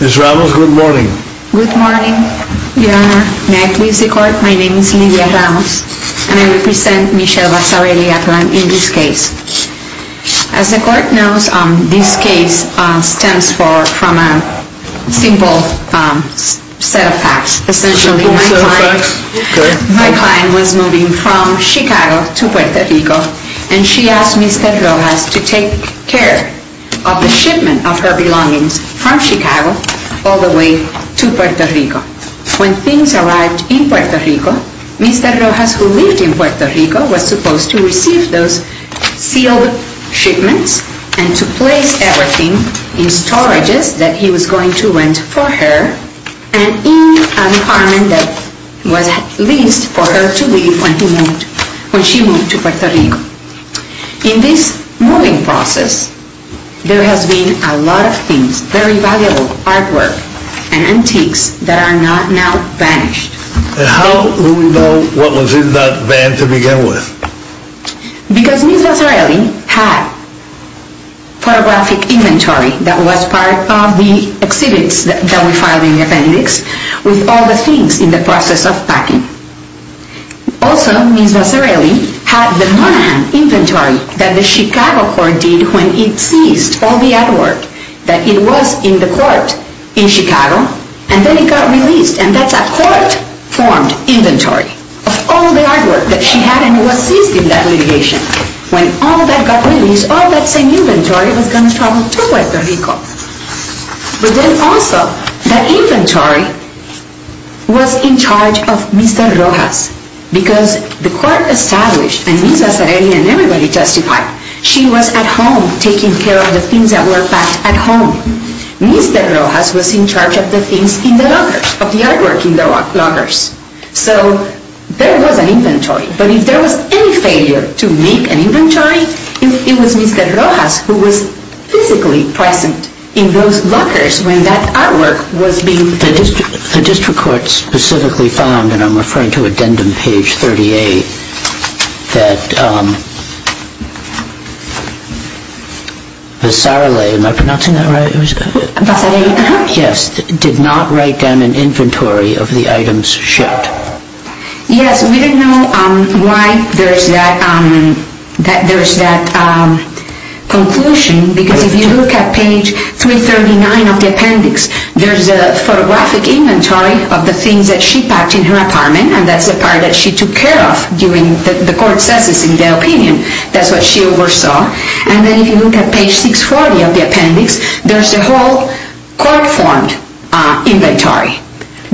Ms. Ramos, good morning. Good morning, Your Honor. May I please record my name is Lidia Ramos, and I represent Michelle Vasarhelyi Atlan in this case. As the court knows, this case stems from a simple set of facts. A simple set of facts? Okay. My client was moving from Chicago to Puerto Rico, and she asked Mr. Rojas to take care of the shipment of her belongings from Chicago all the way to Puerto Rico. When things arrived in Puerto Rico, Mr. Rojas, who lived in Puerto Rico, was supposed to receive those sealed shipments and to place everything in storages that he was going to rent for her and in an apartment that was leased for her to live in when she moved to Puerto Rico. In this moving process, there has been a lot of things, very valuable artwork and antiques that are not now vanished. How do we know what was in that van to begin with? Because Ms. Vasarhelyi had photographic inventory that was part of the exhibits that we filed in the appendix with all the things in the process of packing. Also, Ms. Vasarhelyi had the Monaghan inventory that the Chicago court did when it seized all the artwork that it was in the court in Chicago, and then it got released. And that's a court-formed inventory of all the artwork that she had and what seized in that litigation. When all that got released, all that same inventory was going to travel to Puerto Rico. But then also, that inventory was in charge of Mr. Rojas because the court established, and Ms. Vasarhelyi and everybody justified, she was at home taking care of the things that were packed at home. Mr. Rojas was in charge of the things in the lockers, of the artwork in the lockers. So there was an inventory, but if there was any failure to make an inventory, it was Mr. Rojas who was physically present in those lockers when that artwork was being... The district court specifically found, and I'm referring to addendum page 38, that Vasarhelii, am I pronouncing that right? Vasarhelii, uh-huh. Yes, did not write down an inventory of the items shipped. Yes, we didn't know why there's that conclusion because if you look at page 339 of the appendix, there's a photographic inventory of the things that she packed in her apartment, and that's the part that she took care of during the court session in the opinion. That's what she oversaw. And then if you look at page 640 of the appendix, there's a whole court-formed inventory.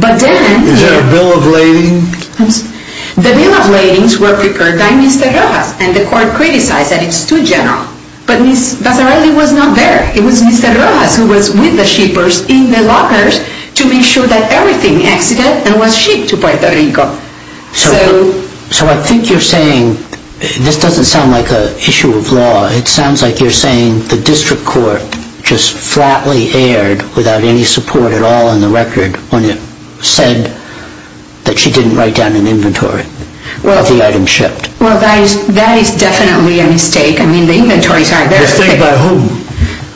But then... Is there a bill of lading? The bill of ladings were prepared by Mr. Rojas, and the court criticized that it's too general. But Ms. Vasarhelii was not there. It was Mr. Rojas who was with the shippers in the lockers to make sure that everything exited and was shipped to Puerto Rico. So I think you're saying this doesn't sound like an issue of law. It sounds like you're saying the district court just flatly erred without any support at all in the record when it said that she didn't write down an inventory of the items shipped. Well, that is definitely a mistake. I mean, the inventories are... A mistake by whom?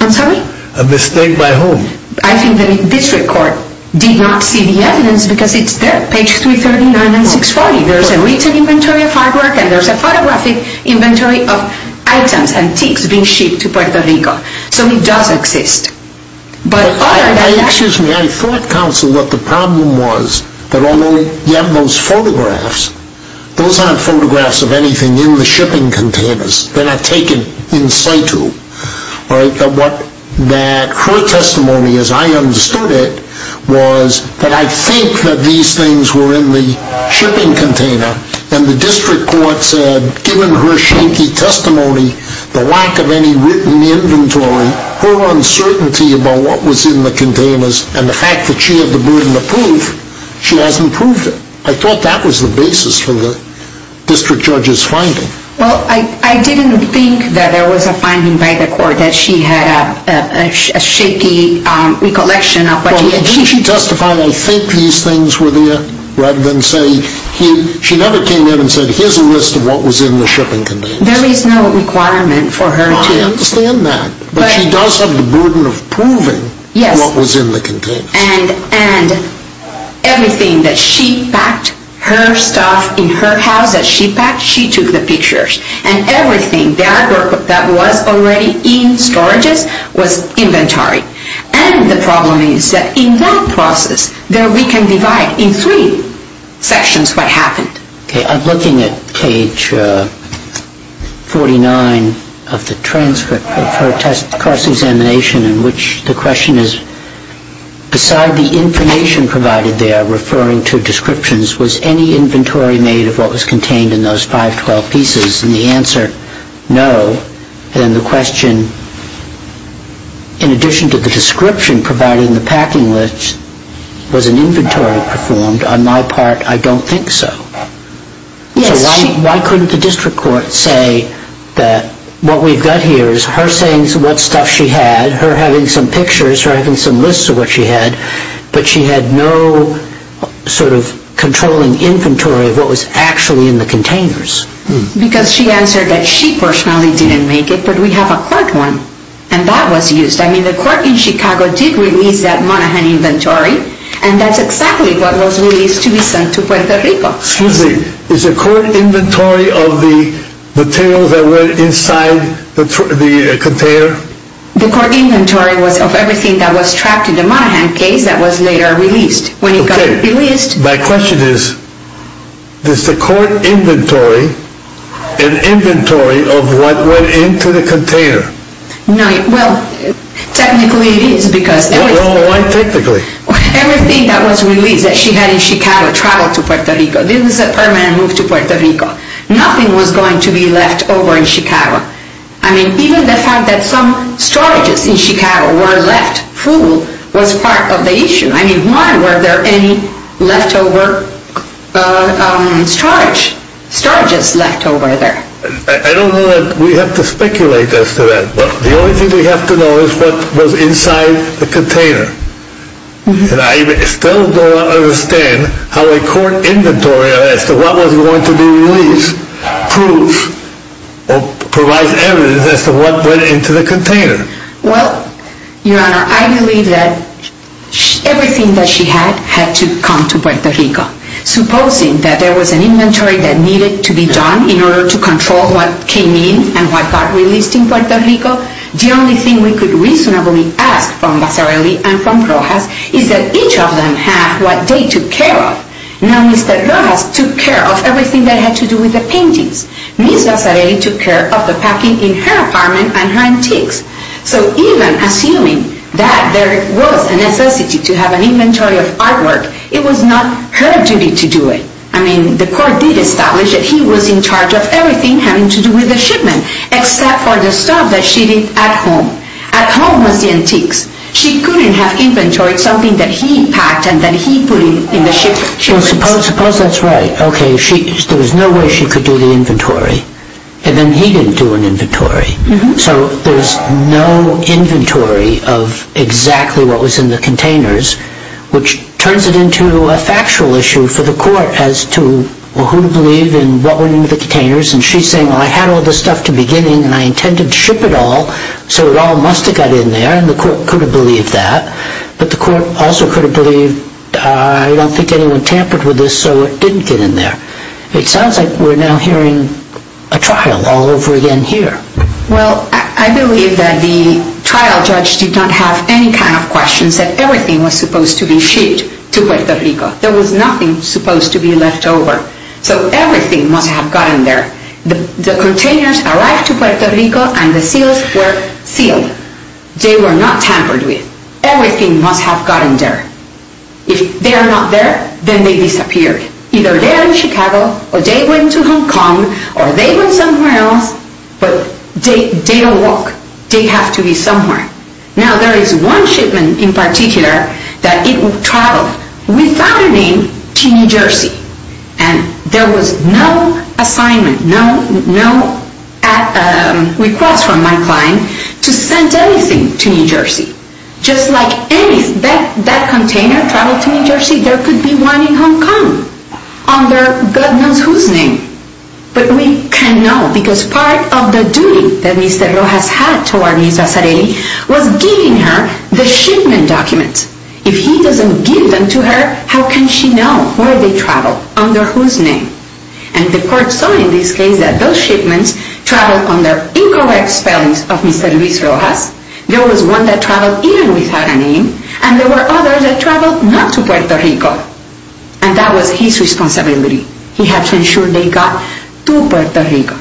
I'm sorry? A mistake by whom? I think the district court did not see the evidence because it's there, page 339 and 640. There's a written inventory of hard work and there's a photographic inventory of items, antiques, being shipped to Puerto Rico. So it does exist. But other than that... Excuse me, I thought, counsel, that the problem was that although you have those photographs, those aren't photographs of anything in the shipping containers. They're not taken in situ. Her testimony, as I understood it, was that I think that these things were in the shipping container and the district court said, given her shaky testimony, the lack of any written inventory, her uncertainty about what was in the containers, and the fact that she had the burden of proof, she hasn't proved it. Well, I didn't think that there was a finding by the court that she had a shaky recollection of... Well, didn't she testify, I think these things were there, rather than say... She never came in and said, here's a list of what was in the shipping containers. There is no requirement for her to... I understand that. But she does have the burden of proving what was in the containers. And everything that she packed, her stuff in her house that she packed, she took the pictures. And everything that was already in storages was inventory. And the problem is that in that process, there we can divide in three sections what happened. I'm looking at page 49 of the transcript of her cross-examination, in which the question is, beside the information provided there referring to descriptions, was any inventory made of what was contained in those 512 pieces? And the answer, no. And the question, in addition to the description providing the packing list, was an inventory performed? On my part, I don't think so. So why couldn't the district court say that what we've got here is her saying what stuff she had, her having some pictures, her having some lists of what she had, but she had no sort of controlling inventory of what was actually in the containers. Because she answered that she personally didn't make it, but we have a court one, and that was used. I mean, the court in Chicago did release that Monaghan inventory, and that's exactly what was released to be sent to Puerto Rico. Excuse me. Is the court inventory of the materials that were inside the container? The court inventory was of everything that was trapped in the Monaghan case that was later released. Okay. My question is, is the court inventory an inventory of what went into the container? Well, technically it is. Well, why technically? Everything that was released that she had in Chicago traveled to Puerto Rico. This is a permanent move to Puerto Rico. Nothing was going to be left over in Chicago. I mean, even the fact that some storages in Chicago were left full was part of the issue. I mean, why were there any leftover storages left over there? I don't know that we have to speculate as to that. But the only thing we have to know is what was inside the container. And I still don't understand how a court inventory as to what was going to be released proves or provides evidence as to what went into the container. Well, Your Honor, I believe that everything that she had had to come to Puerto Rico. Supposing that there was an inventory that needed to be done in order to control what came in and what got released in Puerto Rico, the only thing we could reasonably ask from Vasarely and from Rojas is that each of them had what they took care of. Now, Mr. Rojas took care of everything that had to do with the paintings. Ms. Vasarely took care of the packing in her apartment and her antiques. So even assuming that there was a necessity to have an inventory of artwork, it was not her duty to do it. I mean, the court did establish that he was in charge of everything having to do with the shipment, except for the stuff that she did at home. At home was the antiques. She couldn't have inventoried something that he packed and that he put in the shipment. Well, suppose that's right. Okay, there was no way she could do the inventory. And then he didn't do an inventory. So there's no inventory of exactly what was in the containers, which turns it into a factual issue for the court as to who to believe in what went into the containers. And she's saying, well, I had all this stuff to begin with, and I intended to ship it all, so it all must have got in there, and the court could have believed that. But the court also could have believed, I don't think anyone tampered with this, so it didn't get in there. It sounds like we're now hearing a trial all over again here. Well, I believe that the trial judge did not have any kind of questions, that everything was supposed to be shipped to Puerto Rico. There was nothing supposed to be left over. So everything must have gotten there. The containers arrived to Puerto Rico, and the seals were sealed. They were not tampered with. Everything must have gotten there. If they are not there, then they disappeared. Either they are in Chicago, or they went to Hong Kong, or they went somewhere else, but they don't walk. They have to be somewhere. Now, there is one shipment in particular that it traveled without a name to New Jersey, and there was no assignment, no request from my client to send anything to New Jersey. Just like that container traveled to New Jersey, there could be one in Hong Kong under God knows whose name. But we can't know, because part of the duty that Mr. Rojas had toward Ms. Vasarely was giving her the shipment documents. If he doesn't give them to her, how can she know where they traveled, under whose name? And the court saw in this case that those shipments traveled under incorrect spellings of Mr. Luis Rojas. There was one that traveled even without a name, and there were others that traveled not to Puerto Rico. And that was his responsibility. He had to ensure they got to Puerto Rico.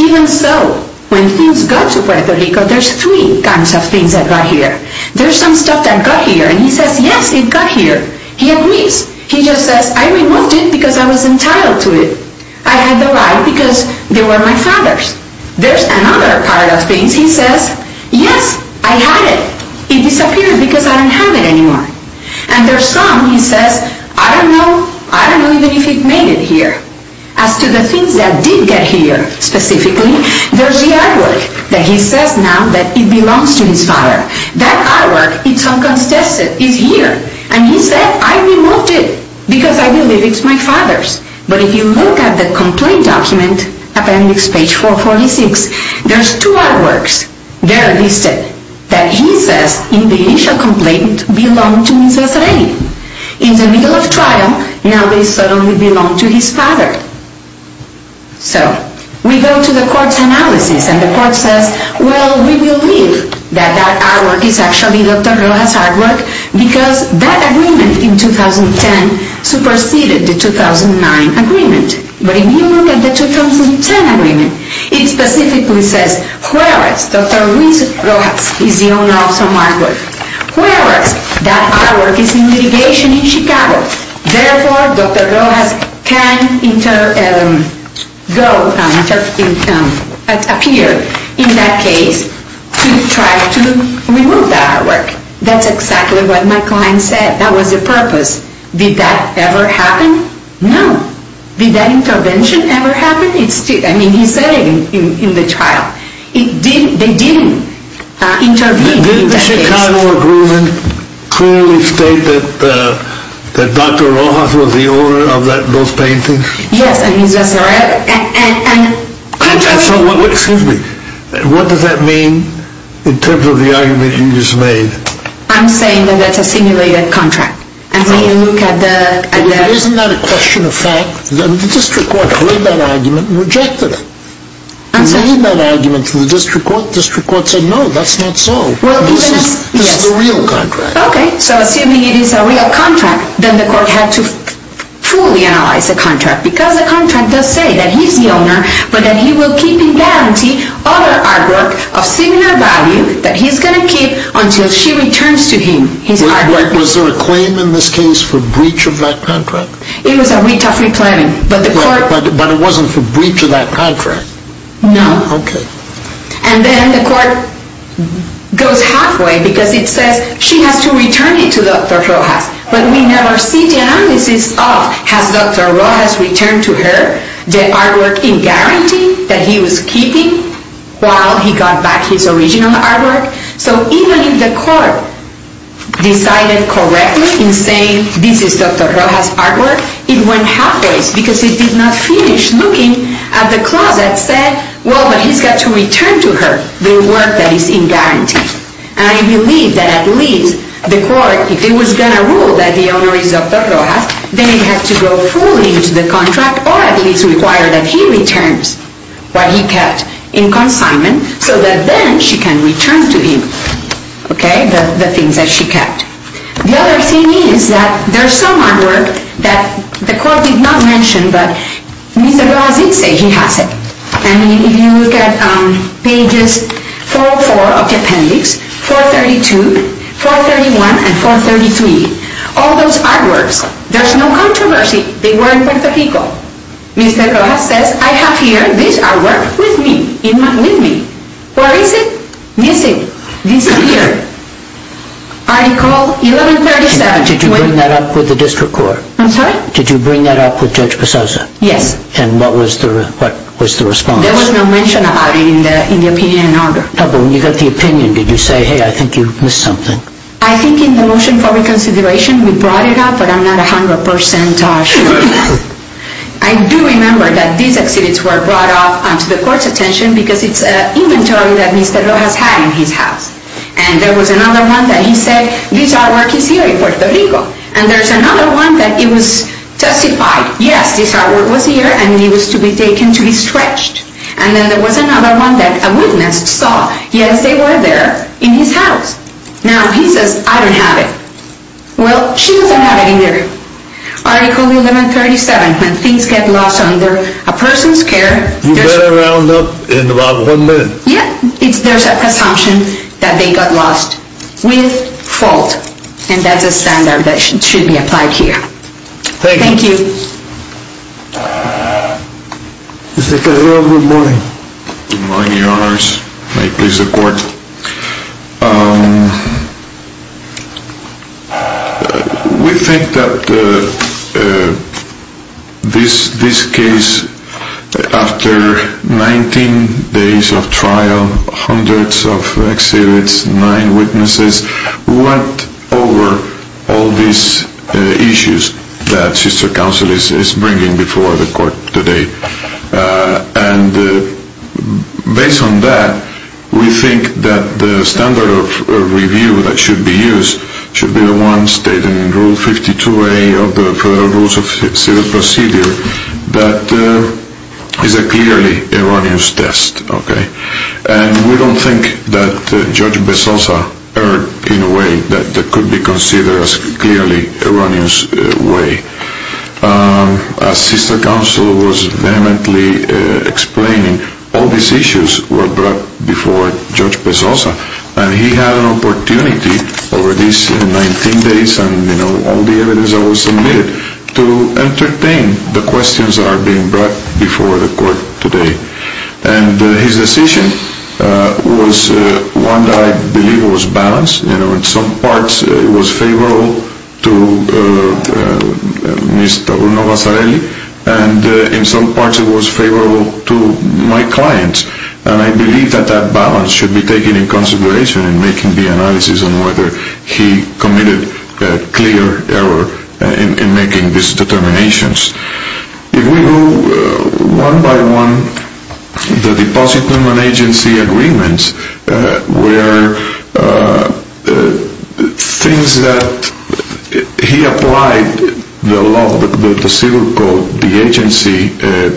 Even so, when things got to Puerto Rico, there's three kinds of things that got here. There's some stuff that got here, and he says, yes, it got here. He admits. He just says, I removed it because I was entitled to it. I had the right because they were my father's. There's another part of things. He says, yes, I had it. It disappeared because I didn't have it anymore. And there's some, he says, I don't know. I don't know even if it made it here. As to the things that did get here specifically, there's the artwork that he says now that it belongs to his father. That artwork, it's unconstituted. It's here. And he said, I removed it because I believe it's my father's. But if you look at the complaint document, appendix page 446, there's two artworks. They're listed that he says in the initial complaint belong to Mrs. Ray. In the middle of trial, now they suddenly belong to his father. So we go to the court's analysis, and the court says, well, we believe that that artwork is actually Dr. Rojas' artwork because that agreement in 2010 superseded the 2009 agreement. But if you look at the 2010 agreement, it specifically says, whereas Dr. Rojas is the owner of some artwork, whereas that artwork is in litigation in Chicago. Therefore, Dr. Rojas can go, appear in that case to try to remove that artwork. That's exactly what my client said. That was the purpose. Did that ever happen? No. Did that intervention ever happen? I mean, he said it in the trial. They didn't intervene in that case. Did the Chicago agreement clearly state that Dr. Rojas was the owner of those paintings? Yes, and he's a surrogate. Excuse me. What does that mean in terms of the argument you just made? I'm saying that that's a simulated contract. Isn't that a question of fact? The district court heard that argument and rejected it. The district court said, no, that's not so. This is a real contract. Okay, so assuming it is a real contract, then the court had to fully analyze the contract because the contract does say that he's the owner, but that he will keep and guarantee other artwork of similar value that he's going to keep until she returns to him his artwork. Was there a claim in this case for breach of that contract? It was a retell free planning. But it wasn't for breach of that contract? No. Okay. And then the court goes halfway because it says she has to return it to Dr. Rojas. But we never see the analysis of has Dr. Rojas returned to her the artwork in guarantee that he was keeping while he got back his original artwork. So even if the court decided correctly in saying this is Dr. Rojas' artwork, it went halfway because it did not finish looking at the clause that said, well, but he's got to return to her the work that is in guarantee. And I believe that at least the court, if it was going to rule that the owner is Dr. Rojas, then it has to go fully into the contract or at least require that he returns what he kept in consignment so that then she can return to him, okay, the things that she kept. The other thing is that there's some artwork that the court did not mention, but Mr. Rojas did say he has it. And if you look at pages 404 of the appendix, 432, 431, and 433, all those artworks, there's no controversy. They were in Puerto Rico. Mr. Rojas says, I have here this artwork with me. Where is it? Missing. Disappeared. Article 1137. Did you bring that up with the district court? I'm sorry? Did you bring that up with Judge Pisoza? Yes. And what was the response? There was no mention about it in the opinion and order. But when you got the opinion, did you say, hey, I think you missed something? I think in the motion for reconsideration, we brought it up, but I'm not 100% sure of that. I do remember that these exhibits were brought up to the court's attention because it's an inventory that Mr. Rojas had in his house. And there was another one that he said, this artwork is here in Puerto Rico. And there's another one that it was testified, yes, this artwork was here, and it was to be taken to be stretched. And then there was another one that a witness saw, yes, they were there in his house. Now, he says, I don't have it. Well, she doesn't have it in there. Article 1137, when things get lost under a person's care. You better round up in about one minute. Yeah, there's a presumption that they got lost with fault, and that's a standard that should be applied here. Thank you. Thank you. Mr. Carrillo, good morning. Good morning, Your Honors. May it please the Court. We think that this case, after 19 days of trial, hundreds of exhibits, nine witnesses, went over all these issues that Sister Counsel is bringing before the Court today. And based on that, we think that the standard of review that should be used should be the one stated in Rule 52A of the Federal Rules of Civil Procedure that is a clearly erroneous test, okay? And we don't think that Judge Bezosa heard in a way that could be considered as clearly erroneous way. As Sister Counsel was vehemently explaining, all these issues were brought before Judge Bezosa, and he had an opportunity over these 19 days and, you know, all the evidence that was submitted to entertain the questions that are being brought before the Court today. And his decision was one that I believe was balanced. You know, in some parts it was favorable to Mr. Bruno Vasarely, and in some parts it was favorable to my clients. And I believe that that balance should be taken in consideration in making the analysis on whether he committed a clear error in making these determinations. If we go one by one, the depositum and agency agreements were things that he applied the law, the civil code, the agency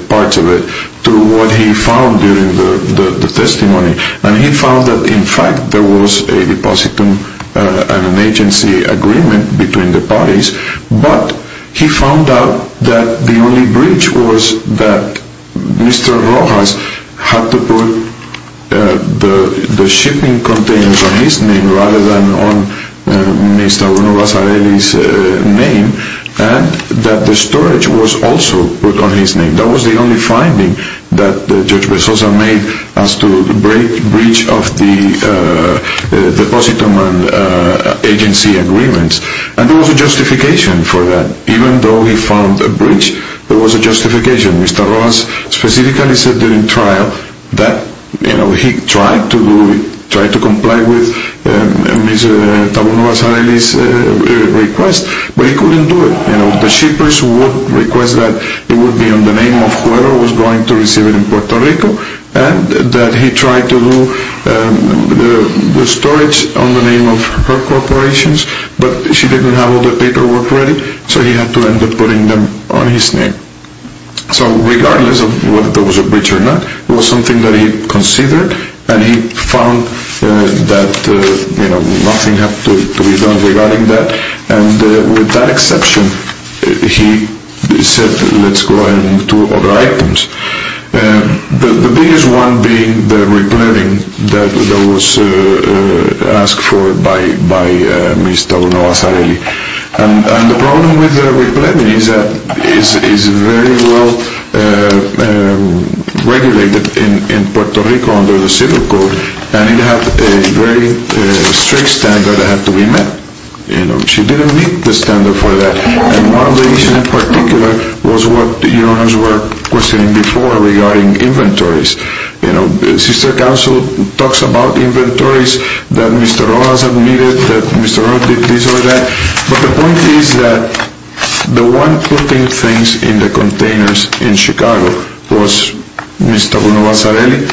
parts of it, to what he found during the testimony. And he found that, in fact, there was a depositum and an agency agreement between the parties, but he found out that the only breach was that Mr. Rojas had to put the shipping containers on his name rather than on Mr. Bruno Vasarely's name, and that the storage was also put on his name. That was the only finding that Judge Bezosa made as to the breach of the depositum and agency agreements. And there was a justification for that. Even though he found a breach, there was a justification. Mr. Rojas specifically said during trial that he tried to comply with Mr. Bruno Vasarely's request, but he couldn't do it. The shippers would request that it would be on the name of whoever was going to receive it in Puerto Rico, and that he tried to do the storage on the name of her corporations, but she didn't have all the paperwork ready, so he had to end up putting them on his name. So regardless of whether there was a breach or not, it was something that he considered, and he found that nothing had to be done regarding that. And with that exception, he said, let's go ahead and move to other items. The biggest one being the repletting that was asked for by Mr. Bruno Vasarely. And the problem with the repletting is that it is very well regulated in Puerto Rico under the civil code, and it had a very strict standard that had to be met. She didn't meet the standard for that. And one of the issues in particular was what the jurors were questioning before regarding inventories. You know, sister counsel talks about inventories that Mr. Rojas admitted that Mr. Rojas did this or that, but the point is that the one putting things in the containers in Chicago was Mr. Bruno Vasarely,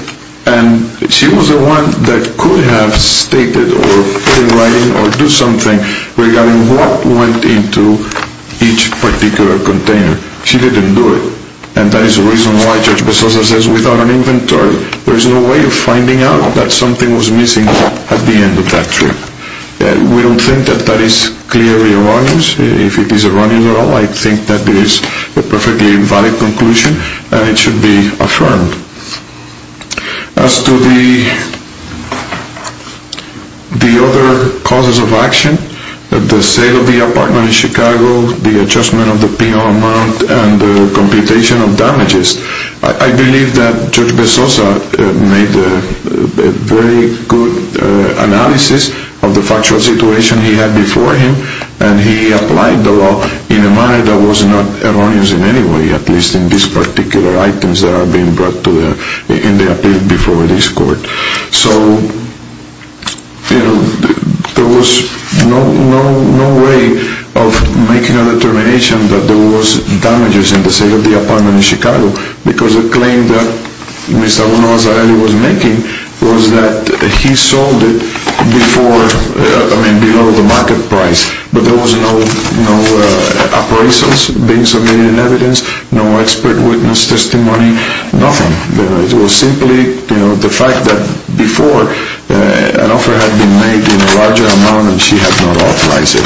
and she was the one that could have stated or in writing or do something regarding what went into each particular container. She didn't do it. And that is the reason why Judge Bezosa says without an inventory, there is no way of finding out that something was missing at the end of that trip. We don't think that that is clearly erroneous. If it is erroneous at all, I think that it is a perfectly valid conclusion, and it should be affirmed. As to the other causes of action, the sale of the apartment in Chicago, the adjustment of the P.O. amount, and the computation of damages, I believe that Judge Bezosa made a very good analysis of the factual situation he had before him, and he applied the law in a manner that was not erroneous in any way, at least in these particular items that are being brought in the appeal before this court. So there was no way of making a determination that there was damages in the sale of the apartment in Chicago, because the claim that Mr. Bruno Vasarely was making was that he sold it below the market price. But there was no appraisals being submitted in evidence, no expert witness testimony, nothing. It was simply the fact that before, an offer had been made in a larger amount and she had not authorized it.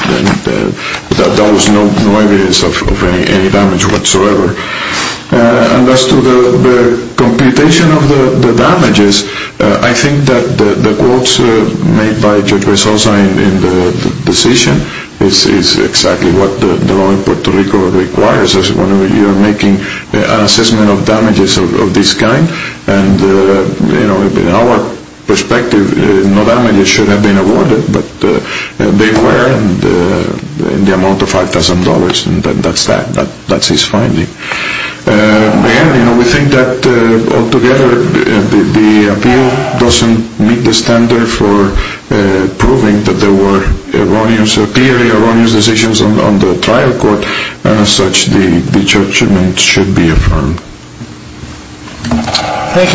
There was no evidence of any damage whatsoever. As to the computation of the damages, I think that the quotes made by Judge Bezosa in the decision is exactly what the law in Puerto Rico requires, when you are making an assessment of damages of this kind. In our perspective, no damages should have been awarded, but they were in the amount of $5,000. That is his finding. We think that altogether the appeal does not meet the standard for proving that there were clearly erroneous decisions on the trial court. As such, the judgment should be affirmed. Thank you, Carl.